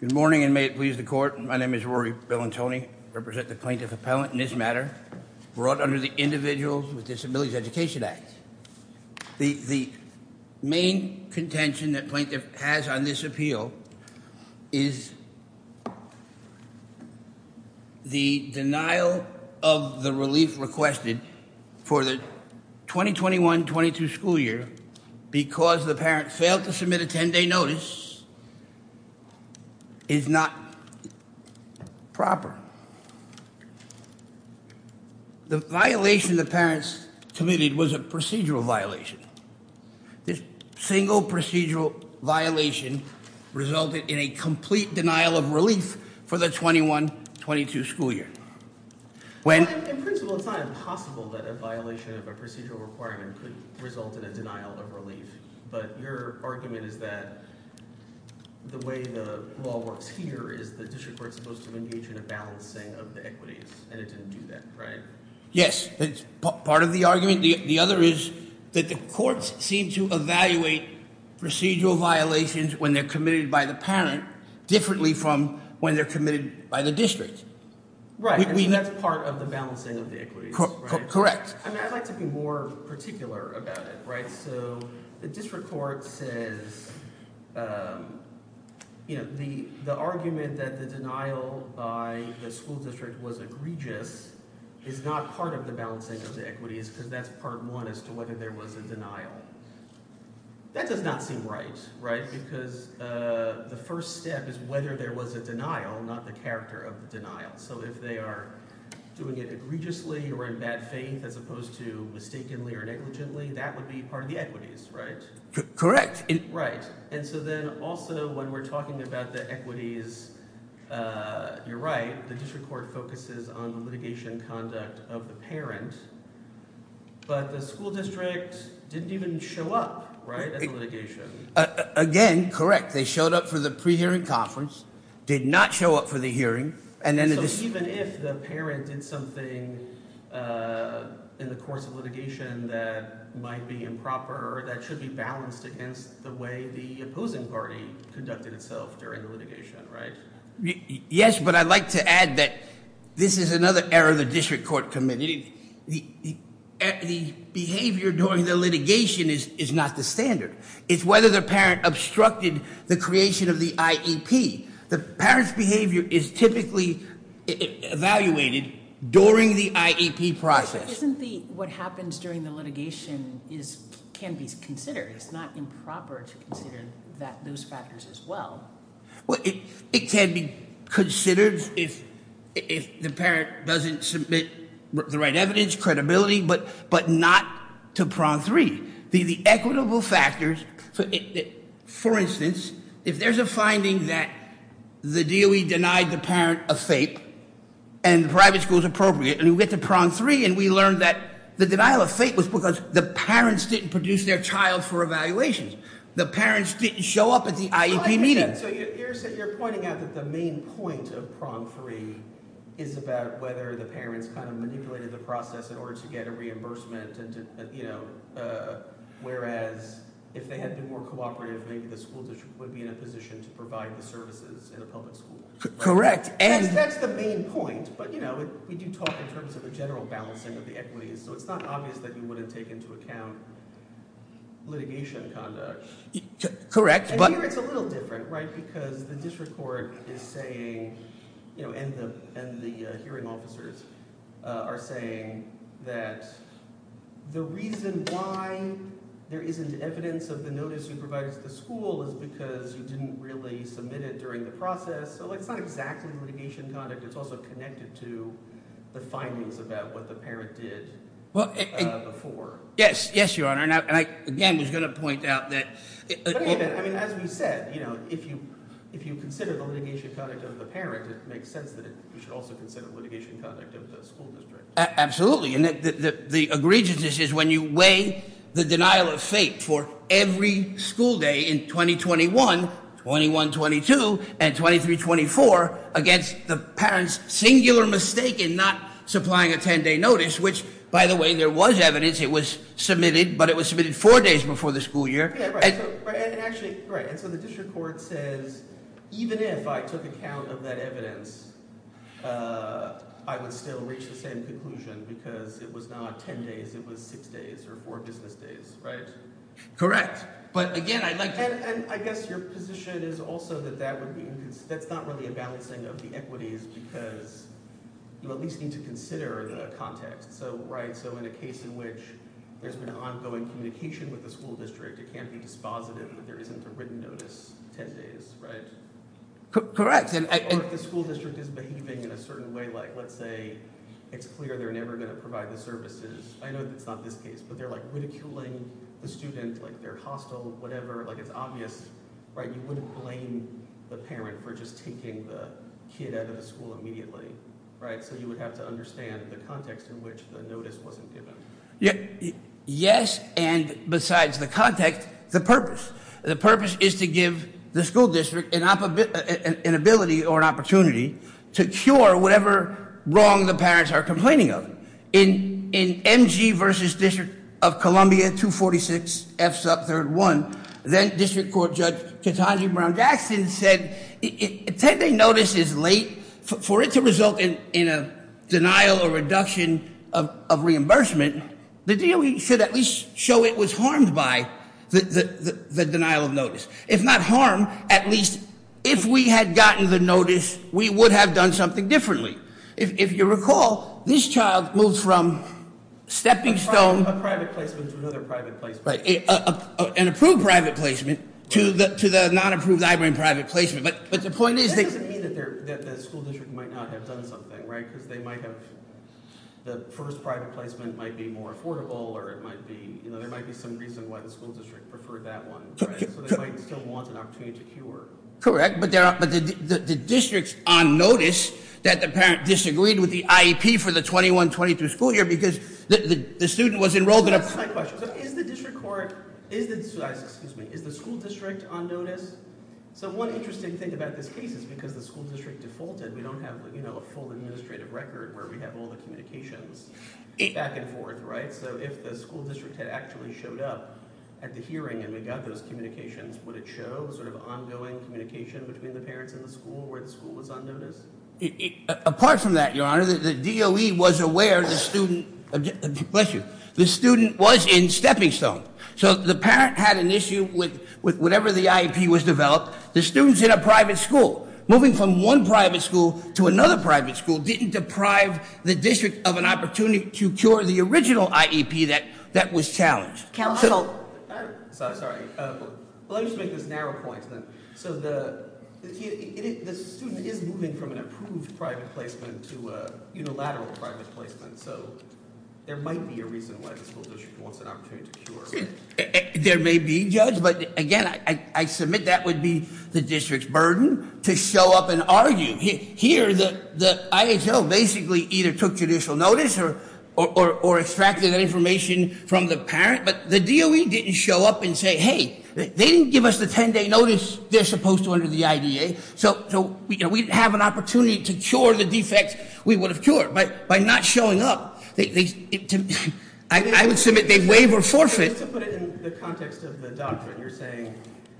Good morning and may it please the court my name is Rory Bellantoni, I represent the plaintiff appellant in this matter brought under the Individuals with Disabilities Education Act. The main contention that plaintiff has on this appeal is the denial of the relief requested for the 2021-22 school year because the parent failed to submit a 10-day notice is not proper. The violation the parents committed was a procedural violation. This single procedural violation resulted in a complete denial of relief for the 2021-22 school year. When in principle it's not impossible that a violation of a procedural requirement could result in a denial of relief but your argument is that the way the law works here is the district is supposed to engage in a balancing of the equities and it didn't do that right? Yes, it's part of the argument the other is that the courts seem to evaluate procedural violations when they're committed by the parent differently from when they're committed by the district. Right, that's part of the balancing of the equities. Correct. I'd like to be more particular about it. So the district court says the argument that the denial by the school district was egregious is not part of the balancing of the equities because that's part one as to whether there was a denial. That does not seem right because the first step is whether there was a denial not the character of the denial. So if they are doing it egregiously or in bad way or negligently that would be part of the equities right? Correct. Right and so then also when we're talking about the equities you're right the district court focuses on the litigation conduct of the parent but the school district didn't even show up right at the litigation. Again correct they showed up for the pre-hearing conference did not show up for the hearing and so even if the parent did something in the course of litigation that might be improper that should be balanced against the way the opposing party conducted itself during the litigation right? Yes but I'd like to add that this is another error of the district court committee. The behavior during the litigation is not the standard. It's whether the parent obstructed the creation of the IEP. The parent's behavior is typically evaluated during the IEP process. Isn't the what happens during the litigation is can be considered it's not improper to consider that those factors as well. Well it can be considered if the parent doesn't submit the right evidence credibility but not to prong three. The equitable factors so for instance if there's a finding that the DOE denied the parent a fape and the private school is appropriate and we get to prong three and we learn that the denial of fate was because the parents didn't produce their child for evaluations. The parents didn't show up at the IEP meeting. So you're pointing out that the main point of prong three is about whether the parents manipulated the process in order to get a reimbursement and you know whereas if they had been more cooperative maybe the school district would be in a position to provide the services in a public school. Correct and that's the main point but you know we do talk in terms of the general balancing of the equities so it's not obvious that you wouldn't take into account litigation conduct. Correct but here it's a little different right because the district court is saying you know and the and the hearing officers are saying that the reason why there isn't evidence of the notice you provide us the school is because you didn't really submit it during the process so it's not exactly litigation conduct it's also connected to the findings about what the parent did before. Yes yes your honor and I again was going to point out that I mean as we said you know if you if you consider the litigation conduct of the parent it makes sense that you should also consider litigation conduct of the school district. Absolutely and the egregiousness is when you weigh the denial of fate for every school day in 2021, 21, 22 and 23, 24 against the parents singular mistake in not supplying a 10-day notice which by the way there was evidence it was submitted but it was submitted four days before the school year right and actually right and so the district court says even if I took account of that evidence I would still reach the same conclusion because it was not 10 days it was six days or four business days right. Correct but again I'd like and I guess your position is also that that would be that's not really a balancing of the equities because you at least need to consider the context so right so in a case in which there's been ongoing communication with the school district it can't be dispositive that there isn't a written notice 10 days right correct and the school district is behaving in a certain way like let's say it's clear they're never going to provide the services I know that's not this case but they're like ridiculing the student like they're hostile whatever like it's obvious right you wouldn't blame the parent for just taking the kid out of the school immediately right so you would have to understand the context in which the notice wasn't given yeah yes and besides the context the purpose the purpose is to give the school district an opportunity an ability or an opportunity to cure whatever wrong the parents are complaining of in in mg versus district of columbia 246 f sub third one then district court judge katonji brown jackson said attending notice is late for it to result in in a denial or reduction of reimbursement the deal we should at least show it was harmed by the the denial of notice if not harm at least if we had gotten the notice we would have done something differently if you recall this child moves from stepping stone a private placement to another private place right an approved private placement to the to the non-approved library and but the point is that the school district might not have done something right because they might have the first private placement might be more affordable or it might be you know there might be some reason why the school district preferred that one so they might still want an opportunity cure correct but there are but the the districts on notice that the parent disagreed with the iep for the 21 22 school year because the the student was enrolled in a question so is the about this case is because the school district defaulted we don't have you know a full administrative record where we have all the communications back and forth right so if the school district had actually showed up at the hearing and we got those communications would it show sort of ongoing communication between the parents in the school where the school was on notice apart from that your honor the doe was aware the student bless you the student was in stepping stone so the parent had an issue with with whatever the iep was developed the students in a private school moving from one private school to another private school didn't deprive the district of an opportunity to cure the original iep that that was challenged council sorry let me just make this narrow point so the the student is moving from an approved private placement to a unilateral private placement so there might be a reason why the school district wants an opportunity to cure there may be judge but again i i submit that would be the district's burden to show up and argue here the the ihl basically either took judicial notice or or or extracted that information from the parent but the doe didn't show up and say hey they didn't give us the 10-day notice they're supposed to under the idea so so we have an opportunity to cure the we would have cured by by not showing up they i would submit they waive or forfeit just to put it in the context of the doctrine you're saying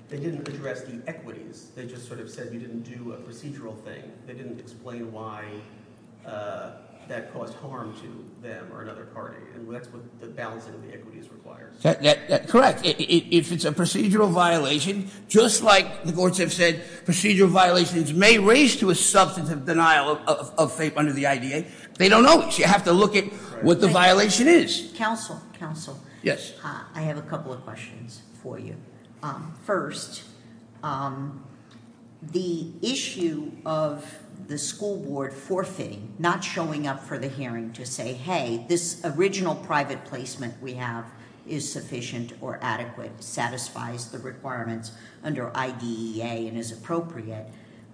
they didn't address the equities they just sort of said you didn't do a procedural thing they didn't explain why that caused harm to them or another party and that's what the balancing of the equities requires correct if it's a procedural violation just like the courts have said procedural violations may raise to a substantive denial of faith under the idea they don't know it you have to look at what the violation is counsel counsel yes i have a couple of questions for you um first um the issue of the school board forfeiting not showing up for the hearing to say hey this original private placement we have is sufficient or adequate satisfies the requirements under idea and is appropriate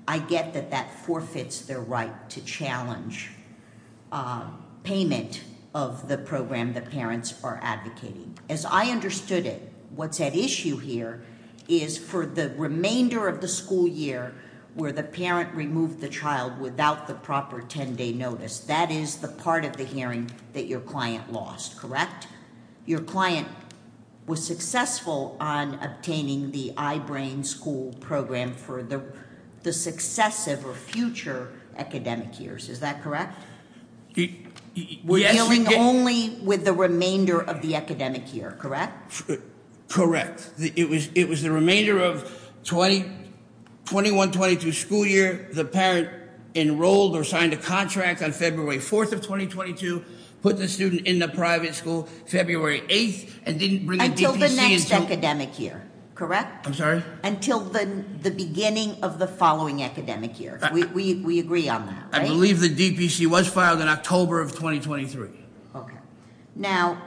i get that that forfeits their right to challenge uh payment of the program the parents are advocating as i understood it what's at issue here is for the remainder of the school year where the parent removed the child without the proper 10-day notice that is the part of the hearing that your client lost correct your client was successful on obtaining the i-brain school program for the the successive or future academic years is that correct we're dealing only with the remainder of the academic year correct correct it was it was the remainder of 20 21 22 school year the parent enrolled or signed a contract on february 4th of 2022 put the student in the private school february 8th and didn't bring until the next the beginning of the following academic year we we agree on that i believe the dpc was filed in october of 2023 okay now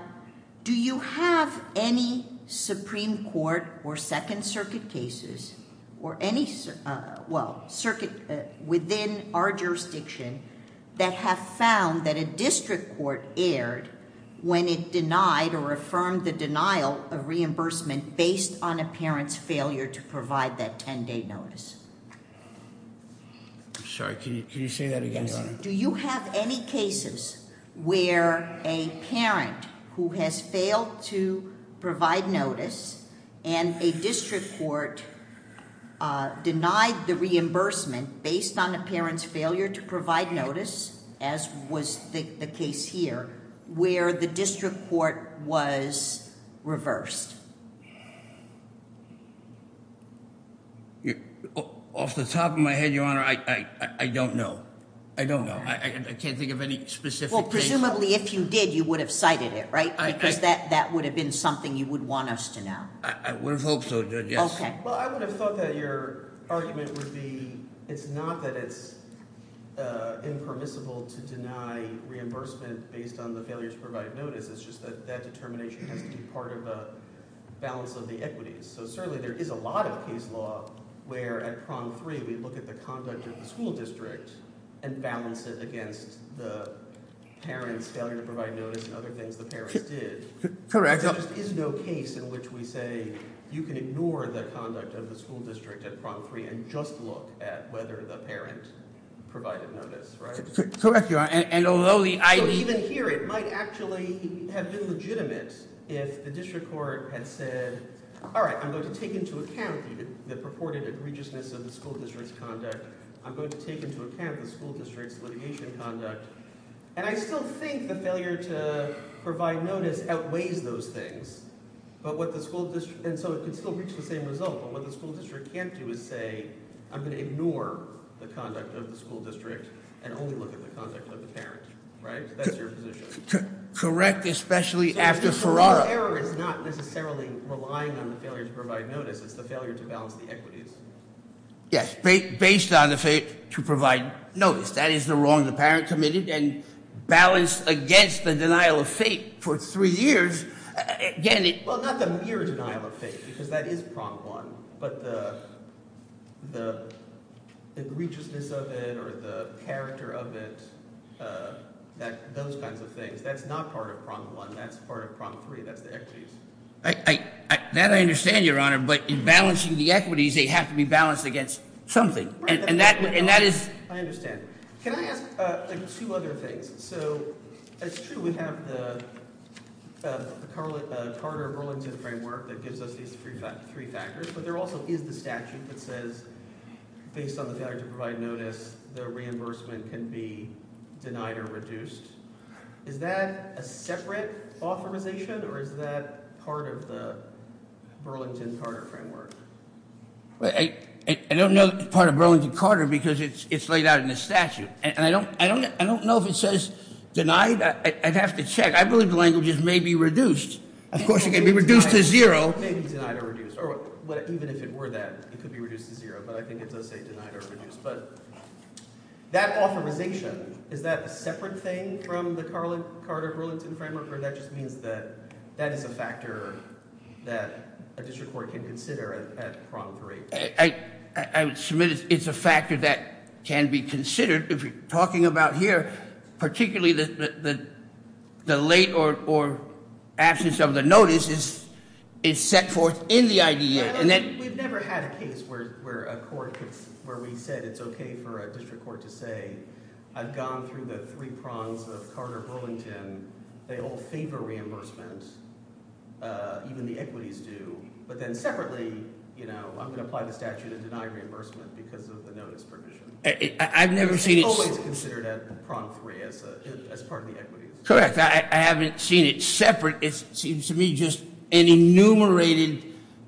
do you have any supreme court or second circuit cases or any uh well circuit within our jurisdiction that have found that a district court aired when it denied or the denial of reimbursement based on a parent's failure to provide that 10-day notice i'm sorry can you can you say that again do you have any cases where a parent who has failed to provide notice and a district court uh denied the reimbursement based on a parent's failure to provide notice as was the case here where the district court was reversed off the top of my head your honor i i i don't know i don't know i can't think of any specific well presumably if you did you would have cited it right because that that would have been something you would want us to know i would have hoped so yes okay well i would have thought that argument would be it's not that it's uh impermissible to deny reimbursement based on the failure to provide notice it's just that that determination has to be part of a balance of the equities so certainly there is a lot of case law where at prong three we look at the conduct of the school district and balance it against the parents failure to provide notice and other things the parents did correct there just is no case in which we say you can ignore the conduct of the school district at prom three and just look at whether the parent provided notice right correct you are and although the i even here it might actually have been legitimate if the district court had said all right i'm going to take into account the purported egregiousness of the school district's conduct i'm going to take into account the school district's litigation conduct and i still think the failure to provide notice outweighs those things but what and so it can still reach the same result but what the school district can't do is say i'm going to ignore the conduct of the school district and only look at the conduct of the parent right that's your position correct especially after ferrara error is not necessarily relying on the failure to provide notice it's the failure to balance the equities yes based on the fate to provide notice that is the wrong the parent committed and balanced against the denial of fate for three years again well not the mere denial of faith because that is prompt one but the the egregiousness of it or the character of it that those kinds of things that's not part of prompt one that's part of prompt three that's the equities i i that i understand your honor but in balancing the equities they have to be so it's true we have the carter burlington framework that gives us these three factors but there also is the statute that says based on the failure to provide notice the reimbursement can be denied or reduced is that a separate authorization or is that part of the burlington carter framework i i don't know part of burlington carter because it's it's laid out in the statute and i don't i don't i don't know if it says denied i'd have to check i believe the languages may be reduced of course it can be reduced to zero maybe denied or reduced or what even if it were that it could be reduced to zero but i think it does say denied or reduced but that authorization is that a separate thing from the carlin carter burlington framework or that just means that that is a factor that a district court can consider at prompt three i i would submit it's a factor that can be considered if you're talking about here particularly the the the late or or absence of the notice is is set forth in the idea and then we've never had a case where where a court could where we said it's okay for a district court to say i've gone through the three prongs of carter burlington they all favor reimbursement uh even the equities do but then separately you know i'm going to apply the statute and deny reimbursement because of the notice provision i've never seen it's always considered at prong three as a as part of the equities correct i haven't seen it separate it seems to me just an enumerated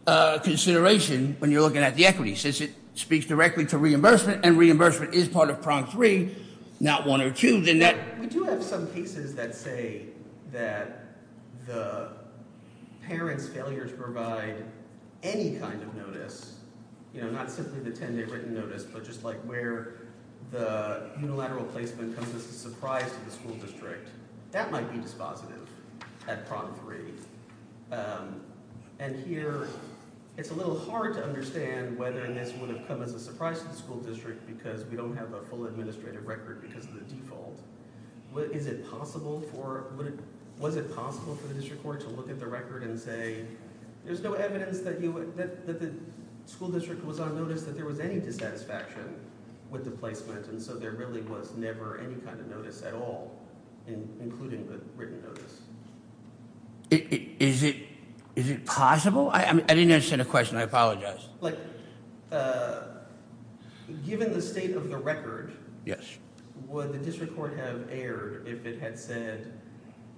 uh consideration when you're looking at the equity since it speaks directly to reimbursement and reimbursement is part of prong three not one or two then that we do have some cases that say that the parents failures provide any kind of notice you know not simply the 10-day written notice but just like where the unilateral placement comes as a surprise to the school district that might be dispositive at prom three and here it's a little hard to understand whether this would have come as a surprise to the school district because we don't have a full administrative record because of the default what is it possible for would it was it possible for the district court to look at the record and say there's no evidence that you would that the school district was on notice that there was any dissatisfaction with the placement and so there really was never any kind of notice at all in including the written notice is it is it possible i i mean i didn't understand a question i apologize like uh given the state of the record yes would the district court have aired if it had said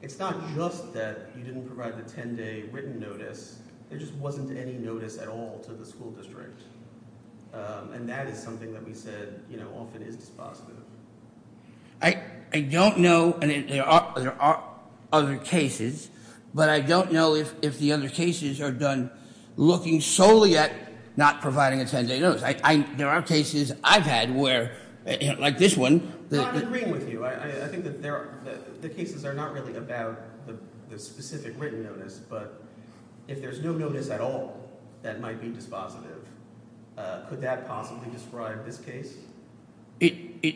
it's not just that you didn't provide the 10-day written notice there just wasn't any notice at all to the school district and that is something that we said you know often is dispositive i i don't know and there are there are other cases but i don't know if if the other cases are done looking solely at not providing a 10-day notice i i there are cases i've had where like this one i'm agreeing with you i i think that there are the cases are not really about the specific written notice but if there's no notice at all that might be dispositive could that possibly describe this case it it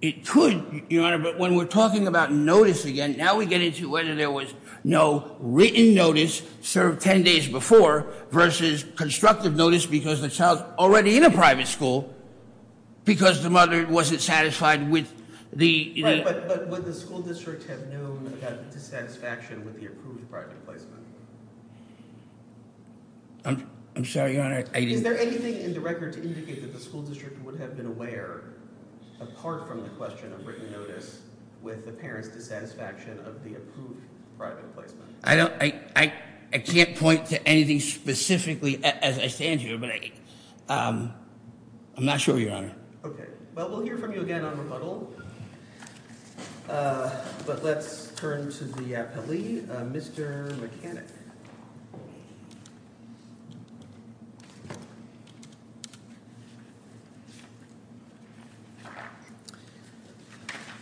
it could your honor but when we're talking about notice again now we get into whether there was no written notice served 10 days before versus constructive notice because the child's already in a private school because the mother wasn't satisfied with the but would the school district have known that dissatisfaction with the approved private placement i'm i'm sorry your honor is there anything in the record to indicate that the school district would have been aware apart from the question of written notice with the parents dissatisfaction of the approved private placement i don't i i i can't point to anything specifically as i stand here but i um i'm not sure your honor okay well we'll hear from you again on rebuttal uh but let's turn to the appellee uh mr mechanic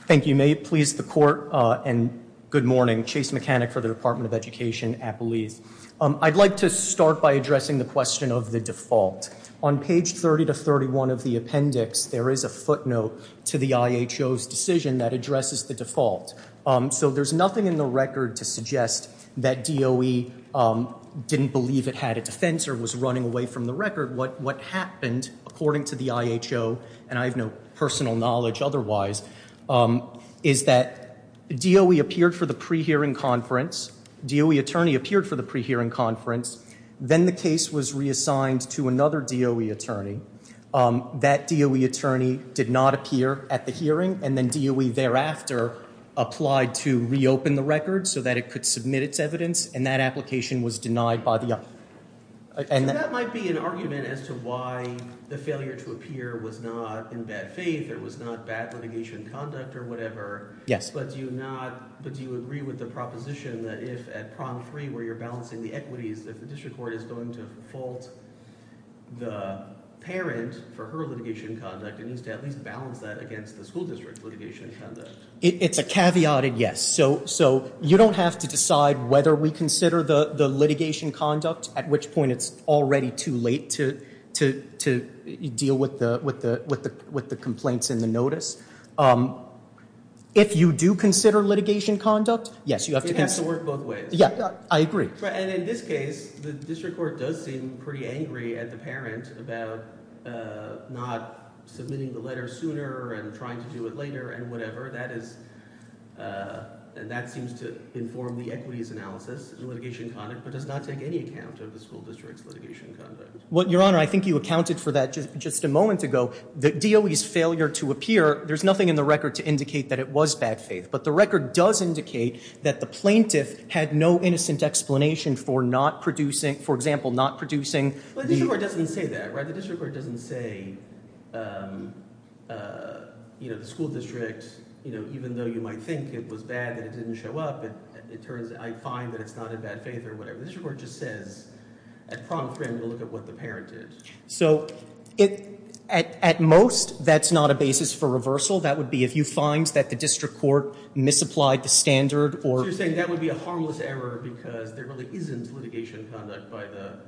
thank you may it please the court uh and good morning chase mechanic for the department of appellees um i'd like to start by addressing the question of the default on page 30 to 31 of the appendix there is a footnote to the iho's decision that addresses the default um so there's nothing in the record to suggest that doe um didn't believe it had a defense or was running away from the record what what happened according to the iho and i have no personal knowledge otherwise um is that doe appeared for the pre-hearing conference doe attorney appeared for the pre-hearing conference then the case was reassigned to another doe attorney um that doe attorney did not appear at the hearing and then doe thereafter applied to reopen the record so that it could submit its evidence and that application was denied by the uh and that might be an argument as to why the failure to appear was not in bad faith it was not bad litigation conduct or whatever yes but do you not but do you agree with the proposition that if at prong three where you're balancing the equities if the district court is going to fault the parent for her litigation conduct it needs to at least balance that against the school district litigation conduct it's a caveat and yes so so you don't have to decide whether we consider the the litigation conduct at which point it's already too late to to to deal with the with the with the with the complaints in the notice um if you do consider litigation conduct yes you have to work both ways yeah i agree and in this case the district court does seem pretty angry at the parent about uh not submitting the letter sooner and trying to do it later and whatever that is uh and that seems to inform the equities analysis and litigation conduct but does not take any account of the school district's litigation conduct what your honor i think you accounted for that just just a moment ago the doe's failure to appear there's nothing in the record to indicate that it was bad faith but the record does indicate that the plaintiff had no innocent explanation for not producing for example not producing the district court doesn't say that right the district court doesn't say um uh you know the school district you know even though you might think it was bad that it didn't show up it it turns i find that it's not in bad faith or whatever this report just says at prompt frame to look at what the parent did so it at at most that's not a basis for reversal that would be if you find that the district court misapplied the standard or you're saying that would be a harmless error because there really isn't litigation by the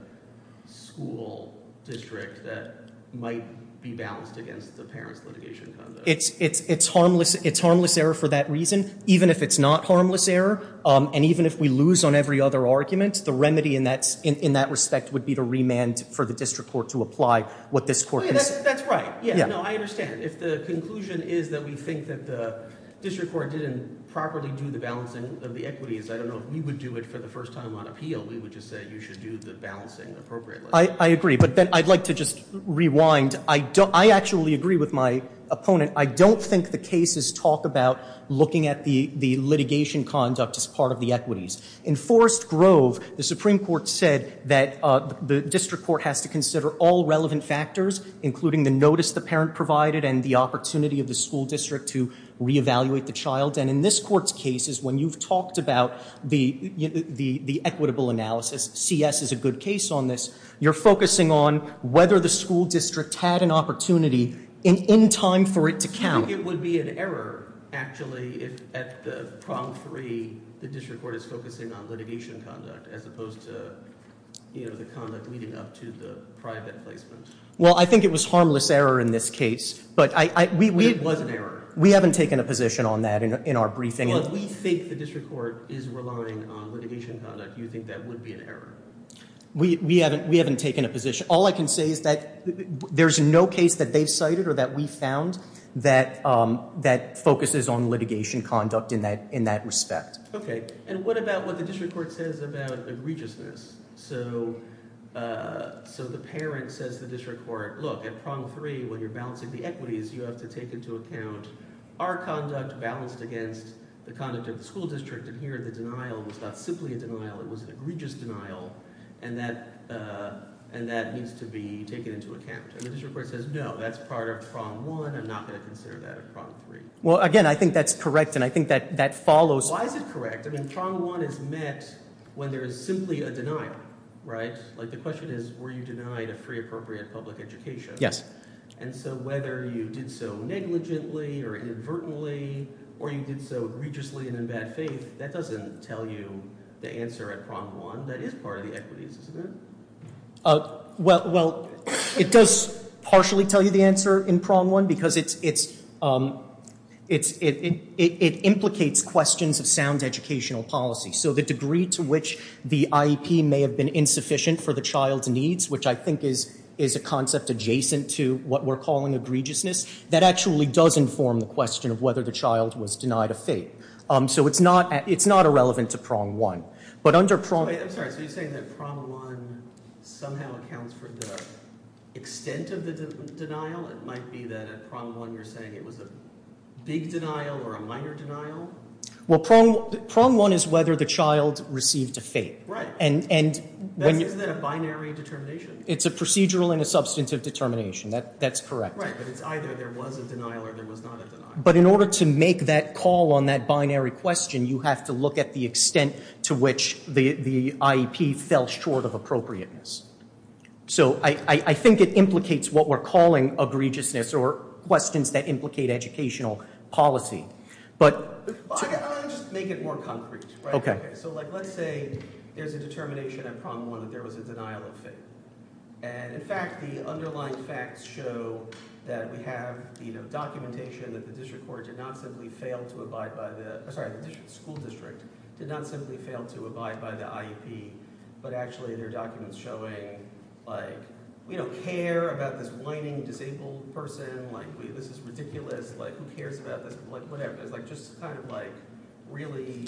school district that might be balanced against the parents litigation it's it's it's harmless it's harmless error for that reason even if it's not harmless error um and even if we lose on every other argument the remedy in that in that respect would be to remand for the district court to apply what this court that's right yeah no i understand if the conclusion is that we think that the district court didn't properly do the balancing of the equities i don't know if we would do it for the first time on appeal we would just say you should do the balancing appropriately i i agree but then i'd like to just rewind i don't i actually agree with my opponent i don't think the cases talk about looking at the the litigation conduct as part of the equities in forest grove the supreme court said that uh the district court has to consider all relevant factors including the notice the parent provided and the opportunity of the school district to reevaluate the child and in this court's cases when you've talked about the the the equitable analysis cs is a good case on this you're focusing on whether the school district had an opportunity in in time for it to count it would be an error actually if at the prong free the district court is focusing on litigation conduct as opposed to you know the conduct leading up to the private placement well i think it was harmless error in this case but i i we it was an error we haven't taken a position on that in our briefing and we think the district court is relying on litigation conduct you think that would be an error we we haven't we haven't taken a position all i can say is that there's no case that they've cited or that we found that um that focuses on litigation conduct in that in that respect okay and what about what the district court says about egregiousness so uh so the parent says the district court look at prong three when you're balancing the equities you have to take into account our conduct balanced against the conduct of the school district and here the denial was not simply a denial it was an egregious denial and that uh and that needs to be taken into account and the district court says no that's part of prong one i'm not going to consider that a problem three well again i think that's correct and i think that that follows why is it correct i mean prong one is met when there is simply a denial right like the question is were denied a free appropriate public education yes and so whether you did so negligently or inadvertently or you did so egregiously and in bad faith that doesn't tell you the answer at prong one that is part of the equities isn't it uh well well it does partially tell you the answer in prong one because it's it's um it's it it it implicates questions of sound educational policy so the degree to which the iep may have been insufficient for the child's needs which i think is is a concept adjacent to what we're calling egregiousness that actually does inform the question of whether the child was denied a fate um so it's not it's not irrelevant to prong one but under prong i'm sorry so you're saying that prong one somehow accounts for the extent of the denial it might be that at prong one you're saying it was a big denial or a minor denial well prong one is whether the child received a fate right and and when is that a binary determination it's a procedural and a substantive determination that that's correct right but it's either there was a denial or there was not a denial but in order to make that call on that binary question you have to look at the extent to which the the iep fell short of appropriateness so i i i think it implicates what we're calling egregiousness or questions that implicate educational policy but just make it more concrete okay okay so like let's say there's a determination at problem one that there was a denial of fate and in fact the underlying facts show that we have you know documentation that the district court did not simply fail to abide by the sorry the school district did not simply fail to abide by the iep but actually their documents showing like we don't care about this whining disabled person like this is ridiculous like who cares about this like whatever it's like just kind of like really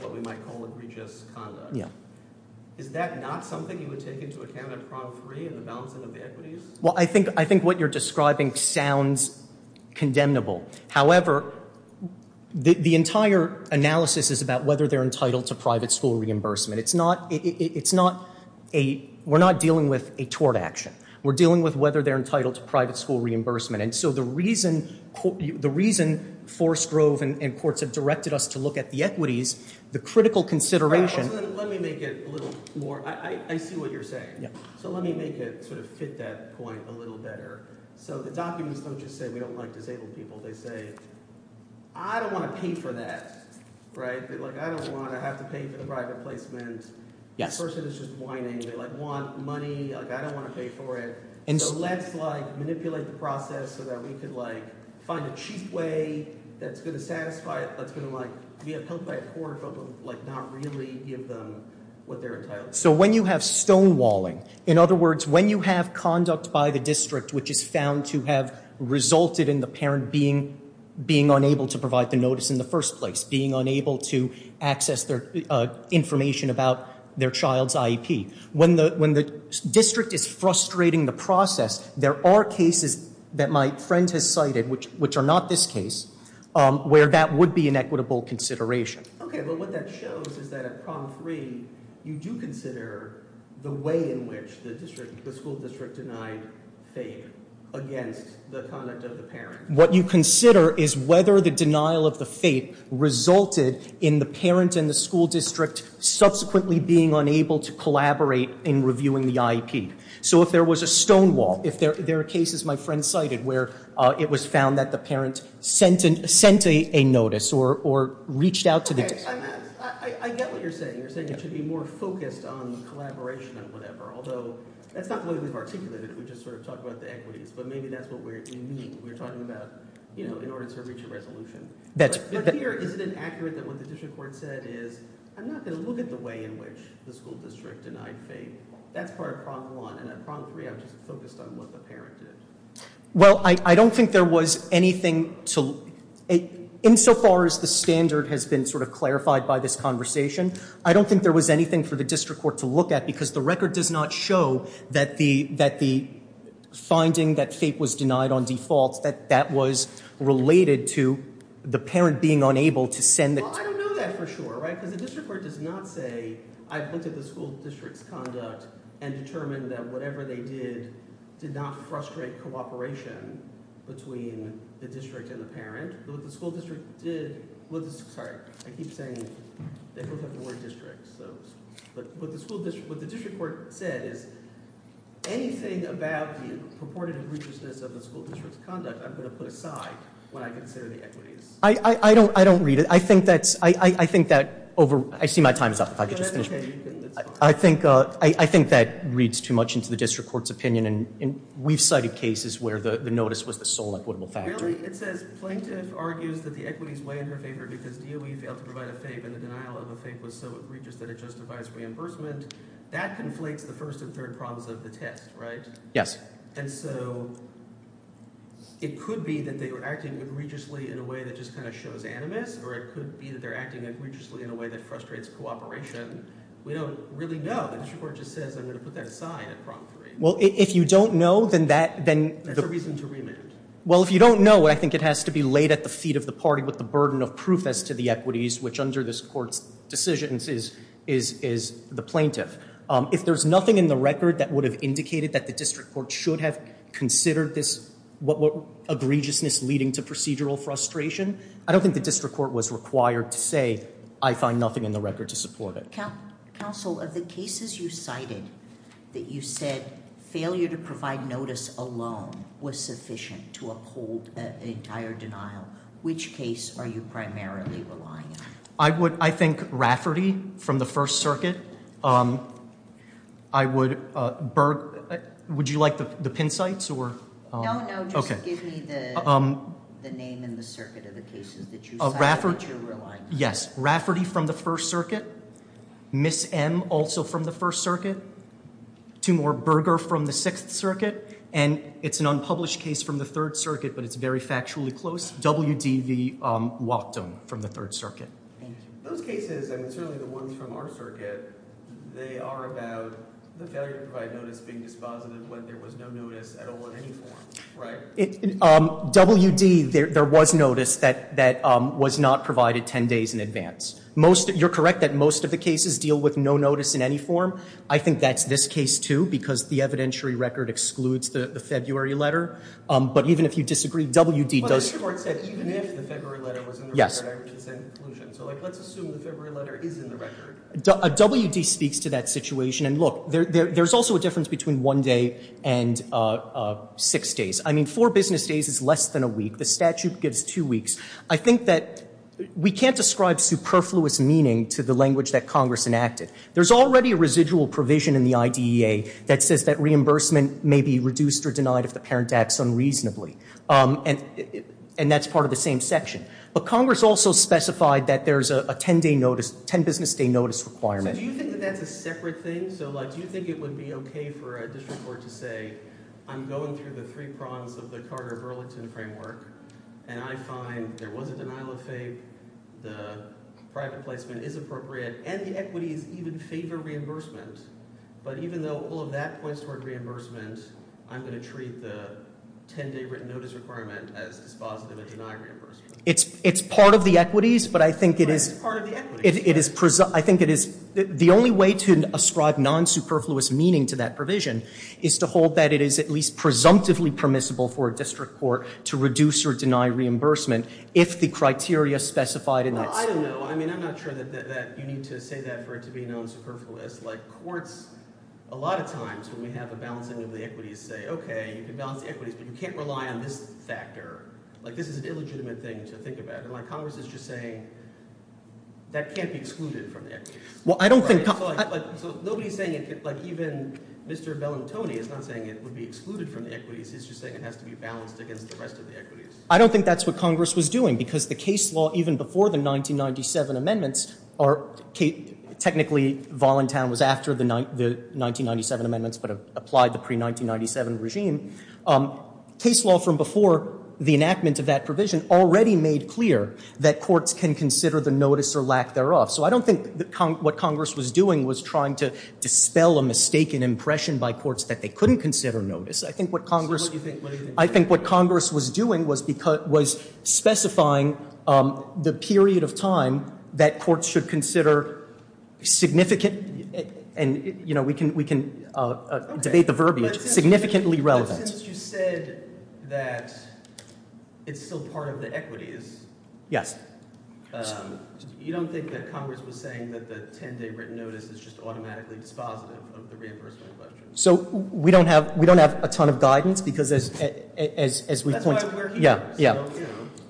what we might call egregious conduct yeah is that not something you would take into account at problem three and the balancing of the equities well i think i think what you're describing sounds condemnable however the the entire analysis is about whether they're entitled to private school reimbursement it's not it's not a we're not dealing with a tort action we're dealing with whether they're entitled to private school reimbursement and so the reason the reason forest grove and courts have directed us to look at the equities the critical consideration let me make it a little more i i see what you're saying so let me make it sort of fit that point a little better so the documents don't just say we don't like disabled people they say i don't want to pay for that right like i don't want to have to pay for the private placement yes person is just whining they like want money like i don't want to pay for it and so let's like manipulate the process so that we could like find a cheap way that's going to satisfy it that's going to like be helped by a court but like not really give them what they're entitled so when you have stonewalling in other words when you have conduct by the district which is found to have resulted in the parent being being unable to provide the notice in the first place being unable to access their uh information about their child's ip when the when the district is frustrating the process there are cases that my friend has cited which which are not this case um where that would be an equitable consideration okay well what that shows is that at prom three you do consider the way in which the district the school district denied fate against the conduct of the parent what you consider is whether the denial of the fate resulted in the parent and school district subsequently being unable to collaborate in reviewing the ip so if there was a stonewall if there are cases my friend cited where uh it was found that the parent sent and sent a notice or or reached out to the i get what you're saying you're saying it should be more focused on the collaboration of whatever although that's not the way we've articulated we just sort of talk about the equities but maybe that's what we're we're talking about you know in order to that's here is it inaccurate that what the district court said is i'm not going to look at the way in which the school district denied fate that's part of prompt one and at prompt three i'm just focused on what the parent did well i i don't think there was anything to it insofar as the standard has been sort of clarified by this conversation i don't think there was anything for the district court to look at because the record does not show that the that the finding that fate was denied on default that that was related to the parent being unable to send that i don't know that for sure right because the district court does not say i pointed the school district's conduct and determined that whatever they did did not frustrate cooperation between the district and the parent but the school district did what sorry i keep saying they both have the word district so but what the school district what the district court said is anything about the purported egregiousness of the school district's conduct i'm going to put aside when i consider the equities i i i don't i don't read it i think that's i i i think that over i see my time is up if i could just finish i think uh i i think that reads too much into the district court's opinion and we've cited cases where the the notice was the sole equitable factor it says plaintiff argues that the equity is way in her favor because do we fail to provide a fave and the denial of a fake was so egregious that it justifies reimbursement that conflates the first and third problems of the test right yes and so it could be that they were acting egregiously in a way that just kind of shows animus or it could be that they're acting egregiously in a way that frustrates cooperation we don't really know the district court just says i'm going to put that aside at prompt three well if you don't know then that then there's a reason to remand well if you don't know i think it has to be laid at the feet of the party with the burden of proof as to the equities which under this court's decisions is is is the plaintiff um if there's nothing in the record that would have indicated that the district court should have considered this what what egregiousness leading to procedural frustration i don't think the district court was required to say i find nothing in the record to support it council of the cases you cited that you said failure to provide notice alone was sufficient to uphold the entire denial which case are you primarily relying on i would i think rafferty from the first circuit um i would uh burke would you like the pin sites or no no just give me the um the name in the circuit of the cases that you have rafferty from the first circuit miss m also from the first circuit two more burger from the sixth circuit and it's an unpublished case from the third circuit but it's very factually close wdv um walked them from the third circuit those cases and certainly the ones from our circuit they are about the failure to provide notice being dispositive when there was no notice at all in any form right um wd there there was notice that that um was not provided 10 days in advance most you're correct that most of the cases deal with no notice in any form i think that's this case too because the evidentiary record excludes the february letter um but even if you disagree wd does the court said even if the february letter yes so like let's assume the february letter is in the record a wd speaks to that situation and look there there's also a difference between one day and uh six days i mean four business days is less than a week the statute gives two weeks i think that we can't describe superfluous meaning to the language that congress enacted there's already a residual provision in the idea that says that reimbursement may be reduced or denied if the parent acts unreasonably um and and that's but congress also specified that there's a 10 day notice 10 business day notice requirement do you think that that's a separate thing so like do you think it would be okay for a district court to say i'm going through the three prongs of the carter burlington framework and i find there was a denial of faith the private placement is appropriate and the equities even favor reimbursement but even though all of that points toward reimbursement i'm going to treat the 10 day written notice requirement as dispositive it's it's part of the equities but i think it is it is i think it is the only way to ascribe non-superfluous meaning to that provision is to hold that it is at least presumptively permissible for a district court to reduce or deny reimbursement if the criteria specified in that i don't know i mean i'm not sure that that you need to say that for it to be known superfluous like courts a lot of times when we can't rely on this factor like this is an illegitimate thing to think about and like congress is just saying that can't be excluded from the equity well i don't think so nobody's saying it like even mr bell and tony is not saying it would be excluded from the equities he's just saying it has to be balanced against the rest of the equities i don't think that's what congress was doing because the case law even before the 1997 amendments are technically volentown was after the 1997 amendments but applied the pre-1997 regime case law from before the enactment of that provision already made clear that courts can consider the notice or lack thereof so i don't think that what congress was doing was trying to dispel a mistaken impression by courts that they couldn't consider notice i think what congress i think what congress was doing was because was specifying um the period of time that courts should consider significant and you know we can we can uh debate the verbiage significantly relevant since you said that it's still part of the equities yes um you don't think that congress was saying that the 10-day written notice is just automatically dispositive of the reimbursement question so we don't have we don't have a ton of guidance because as as as we point out yeah yeah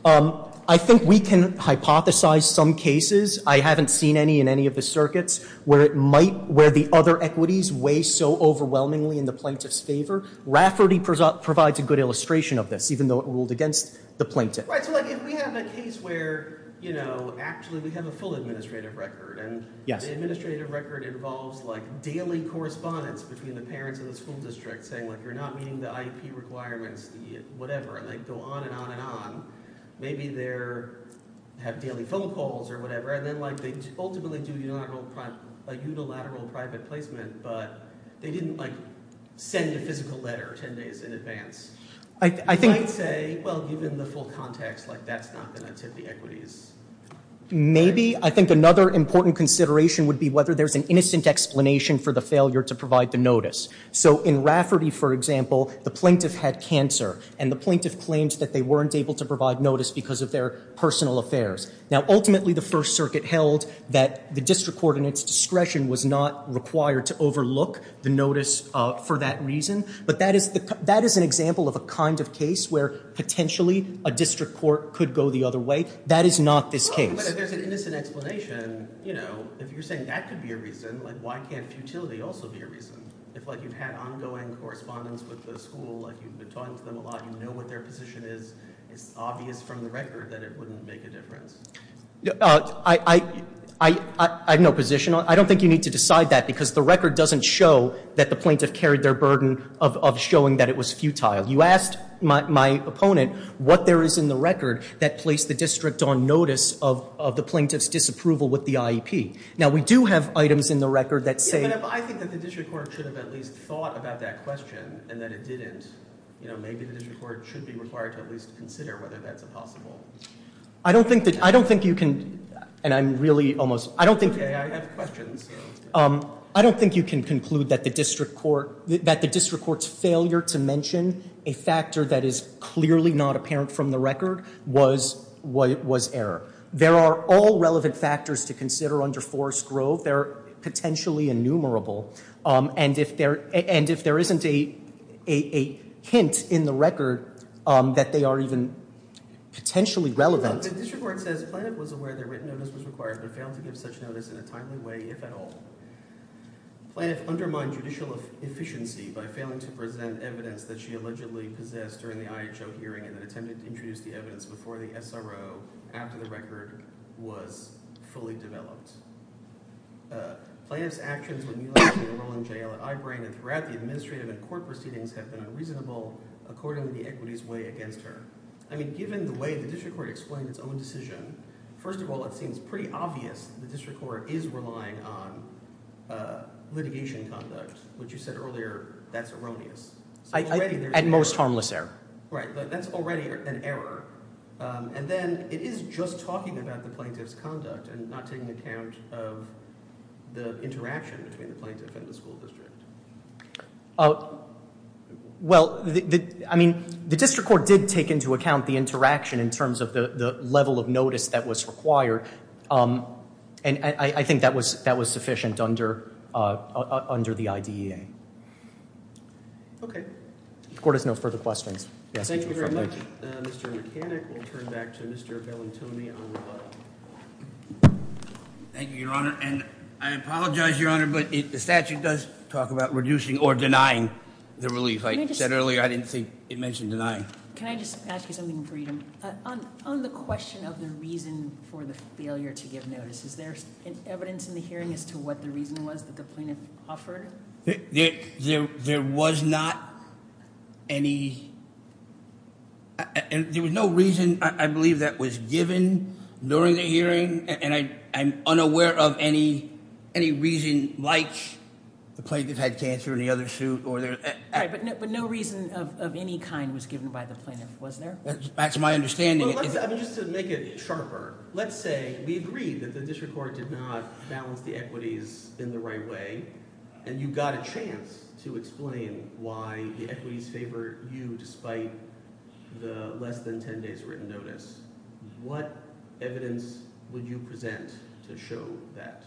um i think we can hypothesize some cases i haven't seen any in any of the circuits where it might where the other equities weigh so overwhelmingly in the plaintiff's favor rafferty provides a good illustration of this even though it ruled against the plaintiff right so like if we have a case where you know actually we have a full administrative record and yes the administrative record involves like daily correspondence between the parents of the school district saying like you're not meeting the ip requirements the whatever and they go on and on and on maybe they're have daily phone calls or whatever and then like they ultimately do unilateral like unilateral private placement but they didn't like send a physical letter 10 days in advance i think i'd say well given the full context like that's not going to tip the equities maybe i think another important consideration would be whether there's an innocent explanation for the failure to provide the notice so in rafferty for example the plaintiff had cancer and the plaintiff claimed that they weren't able to provide notice because of their personal affairs now ultimately the first circuit held that the district court in its discretion was not required to overlook the notice uh for that reason but that is the that is an example of a kind of case where potentially a district court could go the other way that is not this case there's an innocent explanation you know if you're saying that could be a reason like why can't futility also be a reason if like you've had ongoing correspondence with the school like you've been talking to them a lot you know what their position is it's obvious from the record that it wouldn't make a difference i i i i have no position on i don't think you need to decide that because the record doesn't show that the plaintiff carried their burden of of showing that it was futile you asked my my opponent what there is in the record that placed the district on notice of of the plaintiff's disapproval with the iep now we do have items in the record that say i think that the district court should have at least thought about that question and that it didn't you know maybe the district court should be required to at least consider whether that's a possible i don't think that i don't think you can and i'm really almost i don't think okay i have questions um i don't think you can conclude that the district court that the district court's failure to mention a factor that is clearly not apparent from the record was what was error there are all relevant factors to consider under forest grove they're potentially innumerable um and if they're and if there isn't a a a hint in the record um that they are even potentially relevant the district court says planet was aware that written notice was required but failed to give such notice in a timely way if at all planet undermined judicial efficiency by failing to present evidence that she allegedly possessed during the iho hearing and attempted to introduce the evidence before the sro after the record was fully developed plaintiff's actions when you actually enroll in jail at eyebrain and throughout the administrative and court proceedings have been unreasonable according to the equity's way against her i mean given the way the district court explained its own decision first of all it seems pretty obvious the district court is relying on uh litigation conduct which you said that's erroneous at most harmless error right that's already an error um and then it is just talking about the plaintiff's conduct and not taking account of the interaction between the plaintiff and the school district oh well the i mean the district court did take into account the interaction in terms of the the level of notice that was required um and i i think that that was sufficient under uh under the idea okay the court has no further questions thank you your honor and i apologize your honor but the statute does talk about reducing or denying the relief i said earlier i didn't think it mentioned denying can i just ask you something freedom uh on on the question of the reason for the failure to give is there evidence in the hearing as to what the reason was that the plaintiff offered there was not any and there was no reason i believe that was given during the hearing and i'm unaware of any any reason like the plaintiff had cancer in the other suit or there but no reason of any kind was given by the plaintiff was there that's my understanding i mean just to make it sharper let's say we agree that the district court did not balance the equities in the right way and you got a chance to explain why the equities favor you despite the less than 10 days written notice what evidence would you present to show that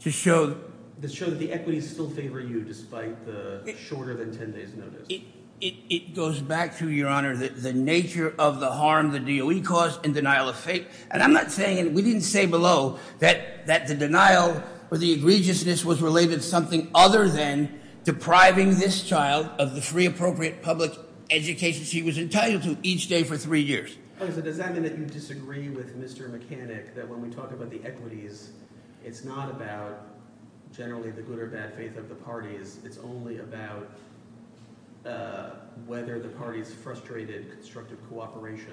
to show the show that the equities still favor you despite the shorter than 10 days notice it it goes back to your honor the nature of the harm the doe caused in denial of faith and i'm not saying we didn't say below that that the denial or the egregiousness was related something other than depriving this child of the free appropriate public education she was entitled to each day for three years okay so does that mean that you disagree with mr mechanic that when we talk about the equities it's not about generally the good or bad faith of the parties it's only about uh whether the party's frustrated constructive cooperation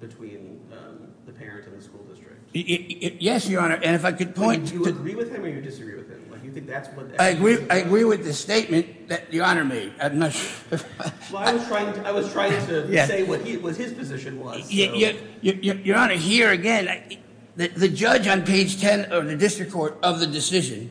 between um the parent in the school district yes your honor and if i could point do you agree with him or you disagree with him like you think that's what i agree i agree with the statement that the honor made i'm not sure well i was trying i was trying to say what he was his position was yeah your honor here again the judge on page 10 of the district court of the decision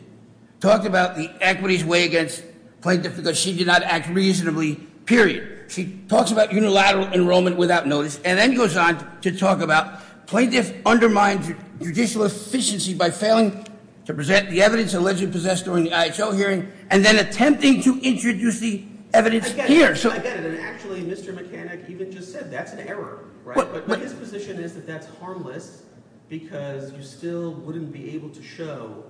talked about the equities way against plaintiff because she did not act reasonably period she talks about unilateral enrollment without notice and then goes on to talk about plaintiff undermined judicial efficiency by failing to present the evidence allegedly possessed during the ihl hearing and then attempting to introduce the evidence here so i get it and actually mr mechanic even just said that's an error right but his position is that that's harmless because you still wouldn't be able to show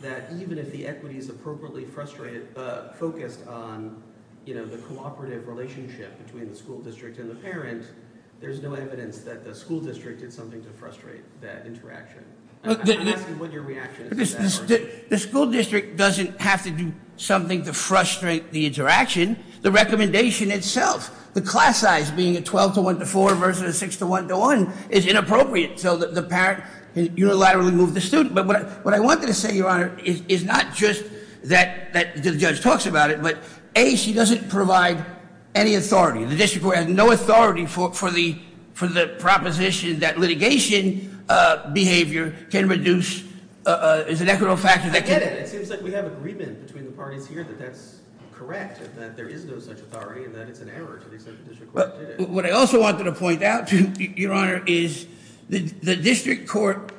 that even if the equity is appropriately frustrated uh focused on you know the cooperative relationship between the school district and the parent there's no evidence that the school district did something to frustrate that interaction i'm asking what your reaction is the school district doesn't have to do something to frustrate the interaction the recommendation itself the class size being a 12 to 1 to 4 versus 6 to 1 to 1 is inappropriate so that the parent can unilaterally move the student but what what i wanted to say your honor is not just that that the judge talks about it but a she doesn't provide any authority the district court has no authority for for the for the proposition that litigation uh behavior can reduce uh is an equitable factor that can get it it seems like we have agreement between the parties here that that's correct that there is no such authority and that it's an error to the extent is the the district court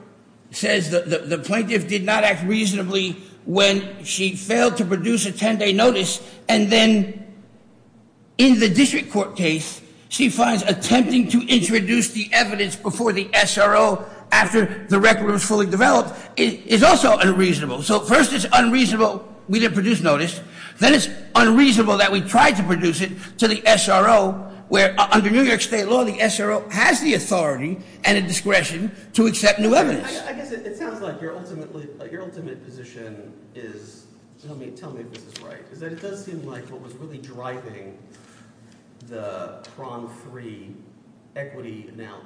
says that the plaintiff did not act reasonably when she failed to produce a 10-day notice and then in the district court case she finds attempting to introduce the evidence before the sro after the record was fully developed is also unreasonable so first it's unreasonable we didn't produce notice then it's unreasonable that we tried to produce it to the sro where under new york state law the sro has the authority and a discretion to accept new evidence i guess it sounds like your ultimately your ultimate position is tell me tell me if this is right is that it does seem like what was really driving the prom free equity now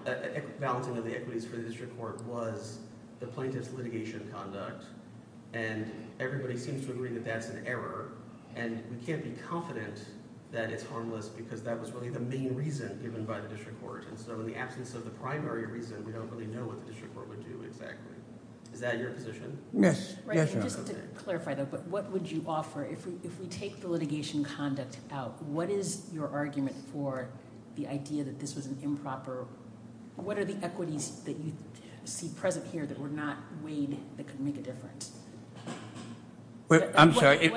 balancing of the equities for the district court was the plaintiff's litigation conduct and everybody seems to agree that that's an error and we can't be confident that it's harmless because that was really the main reason given by the district court and so in the absence of the primary reason we don't really know what the district court would do exactly is that your position yes right just to clarify that but what would you offer if we if we take the litigation conduct out what is your argument for the idea that this was an improper what are the equities that you see present here that were not weighed that could make a difference i'm sorry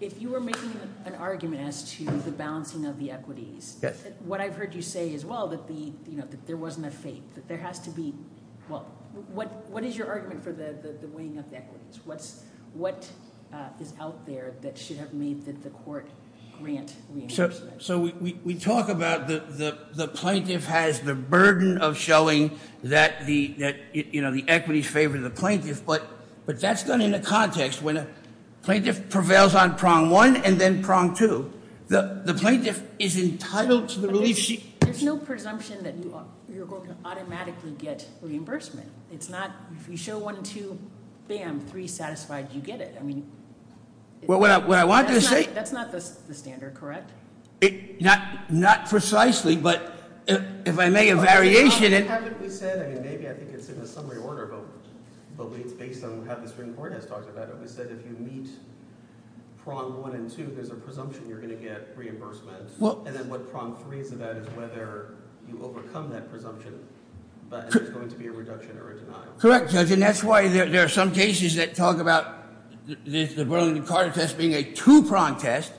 if you were making an argument as to the balancing of the equities yes what i've heard you say as well that the you know that there wasn't a fate that there has to be well what what is your argument for the the weighing of the equities what's what uh is out there that should have made that the court grant so so we we talk about the the plaintiff has the burden of showing that the that you know the equities favor the plaintiff but but that's done in the context when a plaintiff prevails on prong one and then prong two the the plaintiff is entitled to the relief there's no presumption that you you're going to automatically get reimbursement it's not if you show one two bam three satisfied you get it i mean well what i what i wanted to say that's not the standard correct it not not precisely but if i make a variation and we said i mean maybe i think it's in the summary order but but based on how the court has talked about it we said if you meet prong one and two there's a presumption you're going to get reimbursement well and then what prong three is about is whether you overcome that presumption but there's going to be a reduction or a denial correct judge and that's why there are some cases that talk about the burlington carter test being a two prong test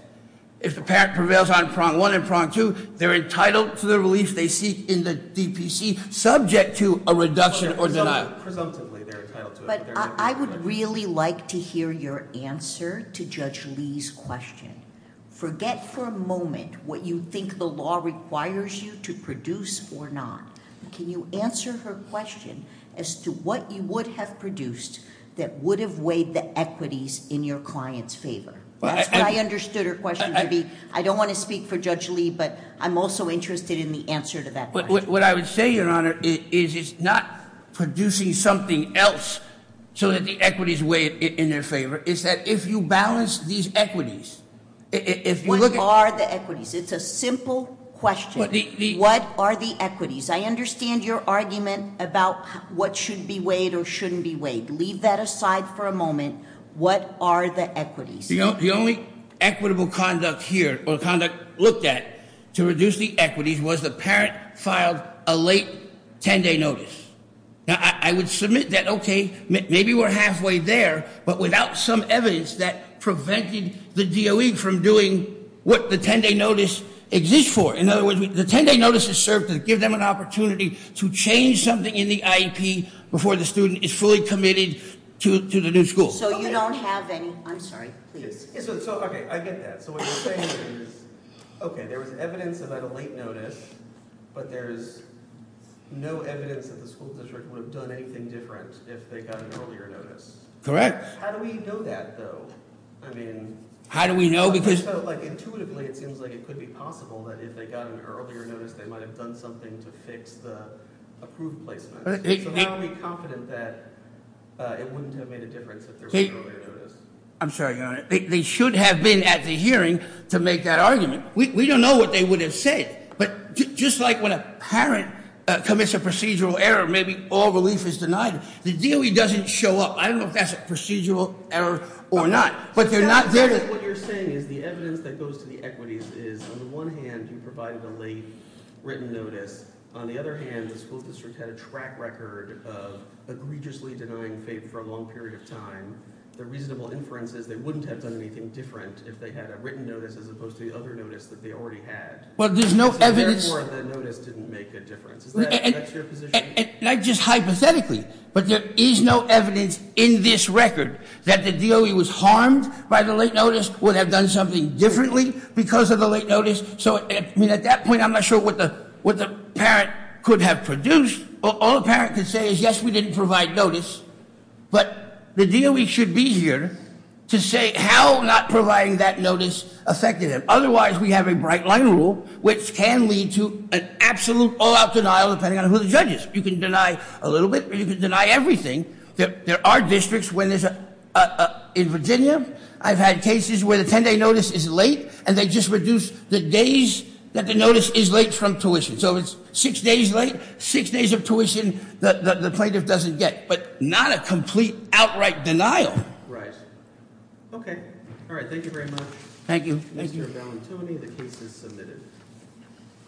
if the pack prevails on prong one and prong two they're entitled to the relief they seek in the subject to a reduction or denial presumptively they're entitled to it but i would really like to hear your answer to judge lee's question forget for a moment what you think the law requires you to produce or not can you answer her question as to what you would have produced that would have weighed the equities in your client's favor that's what i understood her question to be i don't want to speak for judge lee but i'm also interested in the answer to that but what i would say your honor is it's not producing something else so that the equities weighed in their favor is that if you balance these equities if you look at are the equities it's a simple question what are the equities i understand your argument about what should be weighed or shouldn't be weighed leave that aside for a moment what are the equities you know the only equitable conduct here or conduct looked at to reduce the equities was the parent filed a late 10-day notice now i would submit that okay maybe we're halfway there but without some evidence that prevented the doe from doing what the 10-day notice exists for in other words the 10-day notice is served to give them an to change something in the ip before the student is fully committed to to the new school so you don't have any i'm sorry please so okay i get that so what you're saying is okay there was evidence about a late notice but there's no evidence that the school district would have done anything different if they got an earlier notice correct how do we know that though i mean how do we know because like intuitively it seems like it could be possible that if they got an earlier notice they might have done something to fix the approved placement so i'll be confident that it wouldn't have made a difference if there's a notice i'm sorry your honor they should have been at the hearing to make that argument we don't know what they would have said but just like when a parent commits a procedural error maybe all relief is denied the doe doesn't show up i don't know if that's a procedural error or not but they're not there what you're saying is the evidence that goes to the equities is on the one hand you provided a late written notice on the other hand the school district had a track record of egregiously denying fate for a long period of time the reasonable inference is they wouldn't have done anything different if they had a written notice as opposed to the other notice that they already had well there's no evidence for the notice didn't make a difference is that not just hypothetically but there is no evidence in this record that the was harmed by the late notice would have done something differently because of the late notice so i mean at that point i'm not sure what the what the parent could have produced all the parent could say is yes we didn't provide notice but the deal we should be here to say how not providing that notice affected him otherwise we have a bright line rule which can lead to an absolute all-out denial depending on who the judge is you can deny a little bit you can deny everything there are districts when there's a in virginia i've had cases where the 10-day notice is late and they just reduce the days that the notice is late from tuition so it's six days late six days of tuition that the plaintiff doesn't get but not a complete outright denial right okay all right thank you very much thank you thank you valentini the case is submitted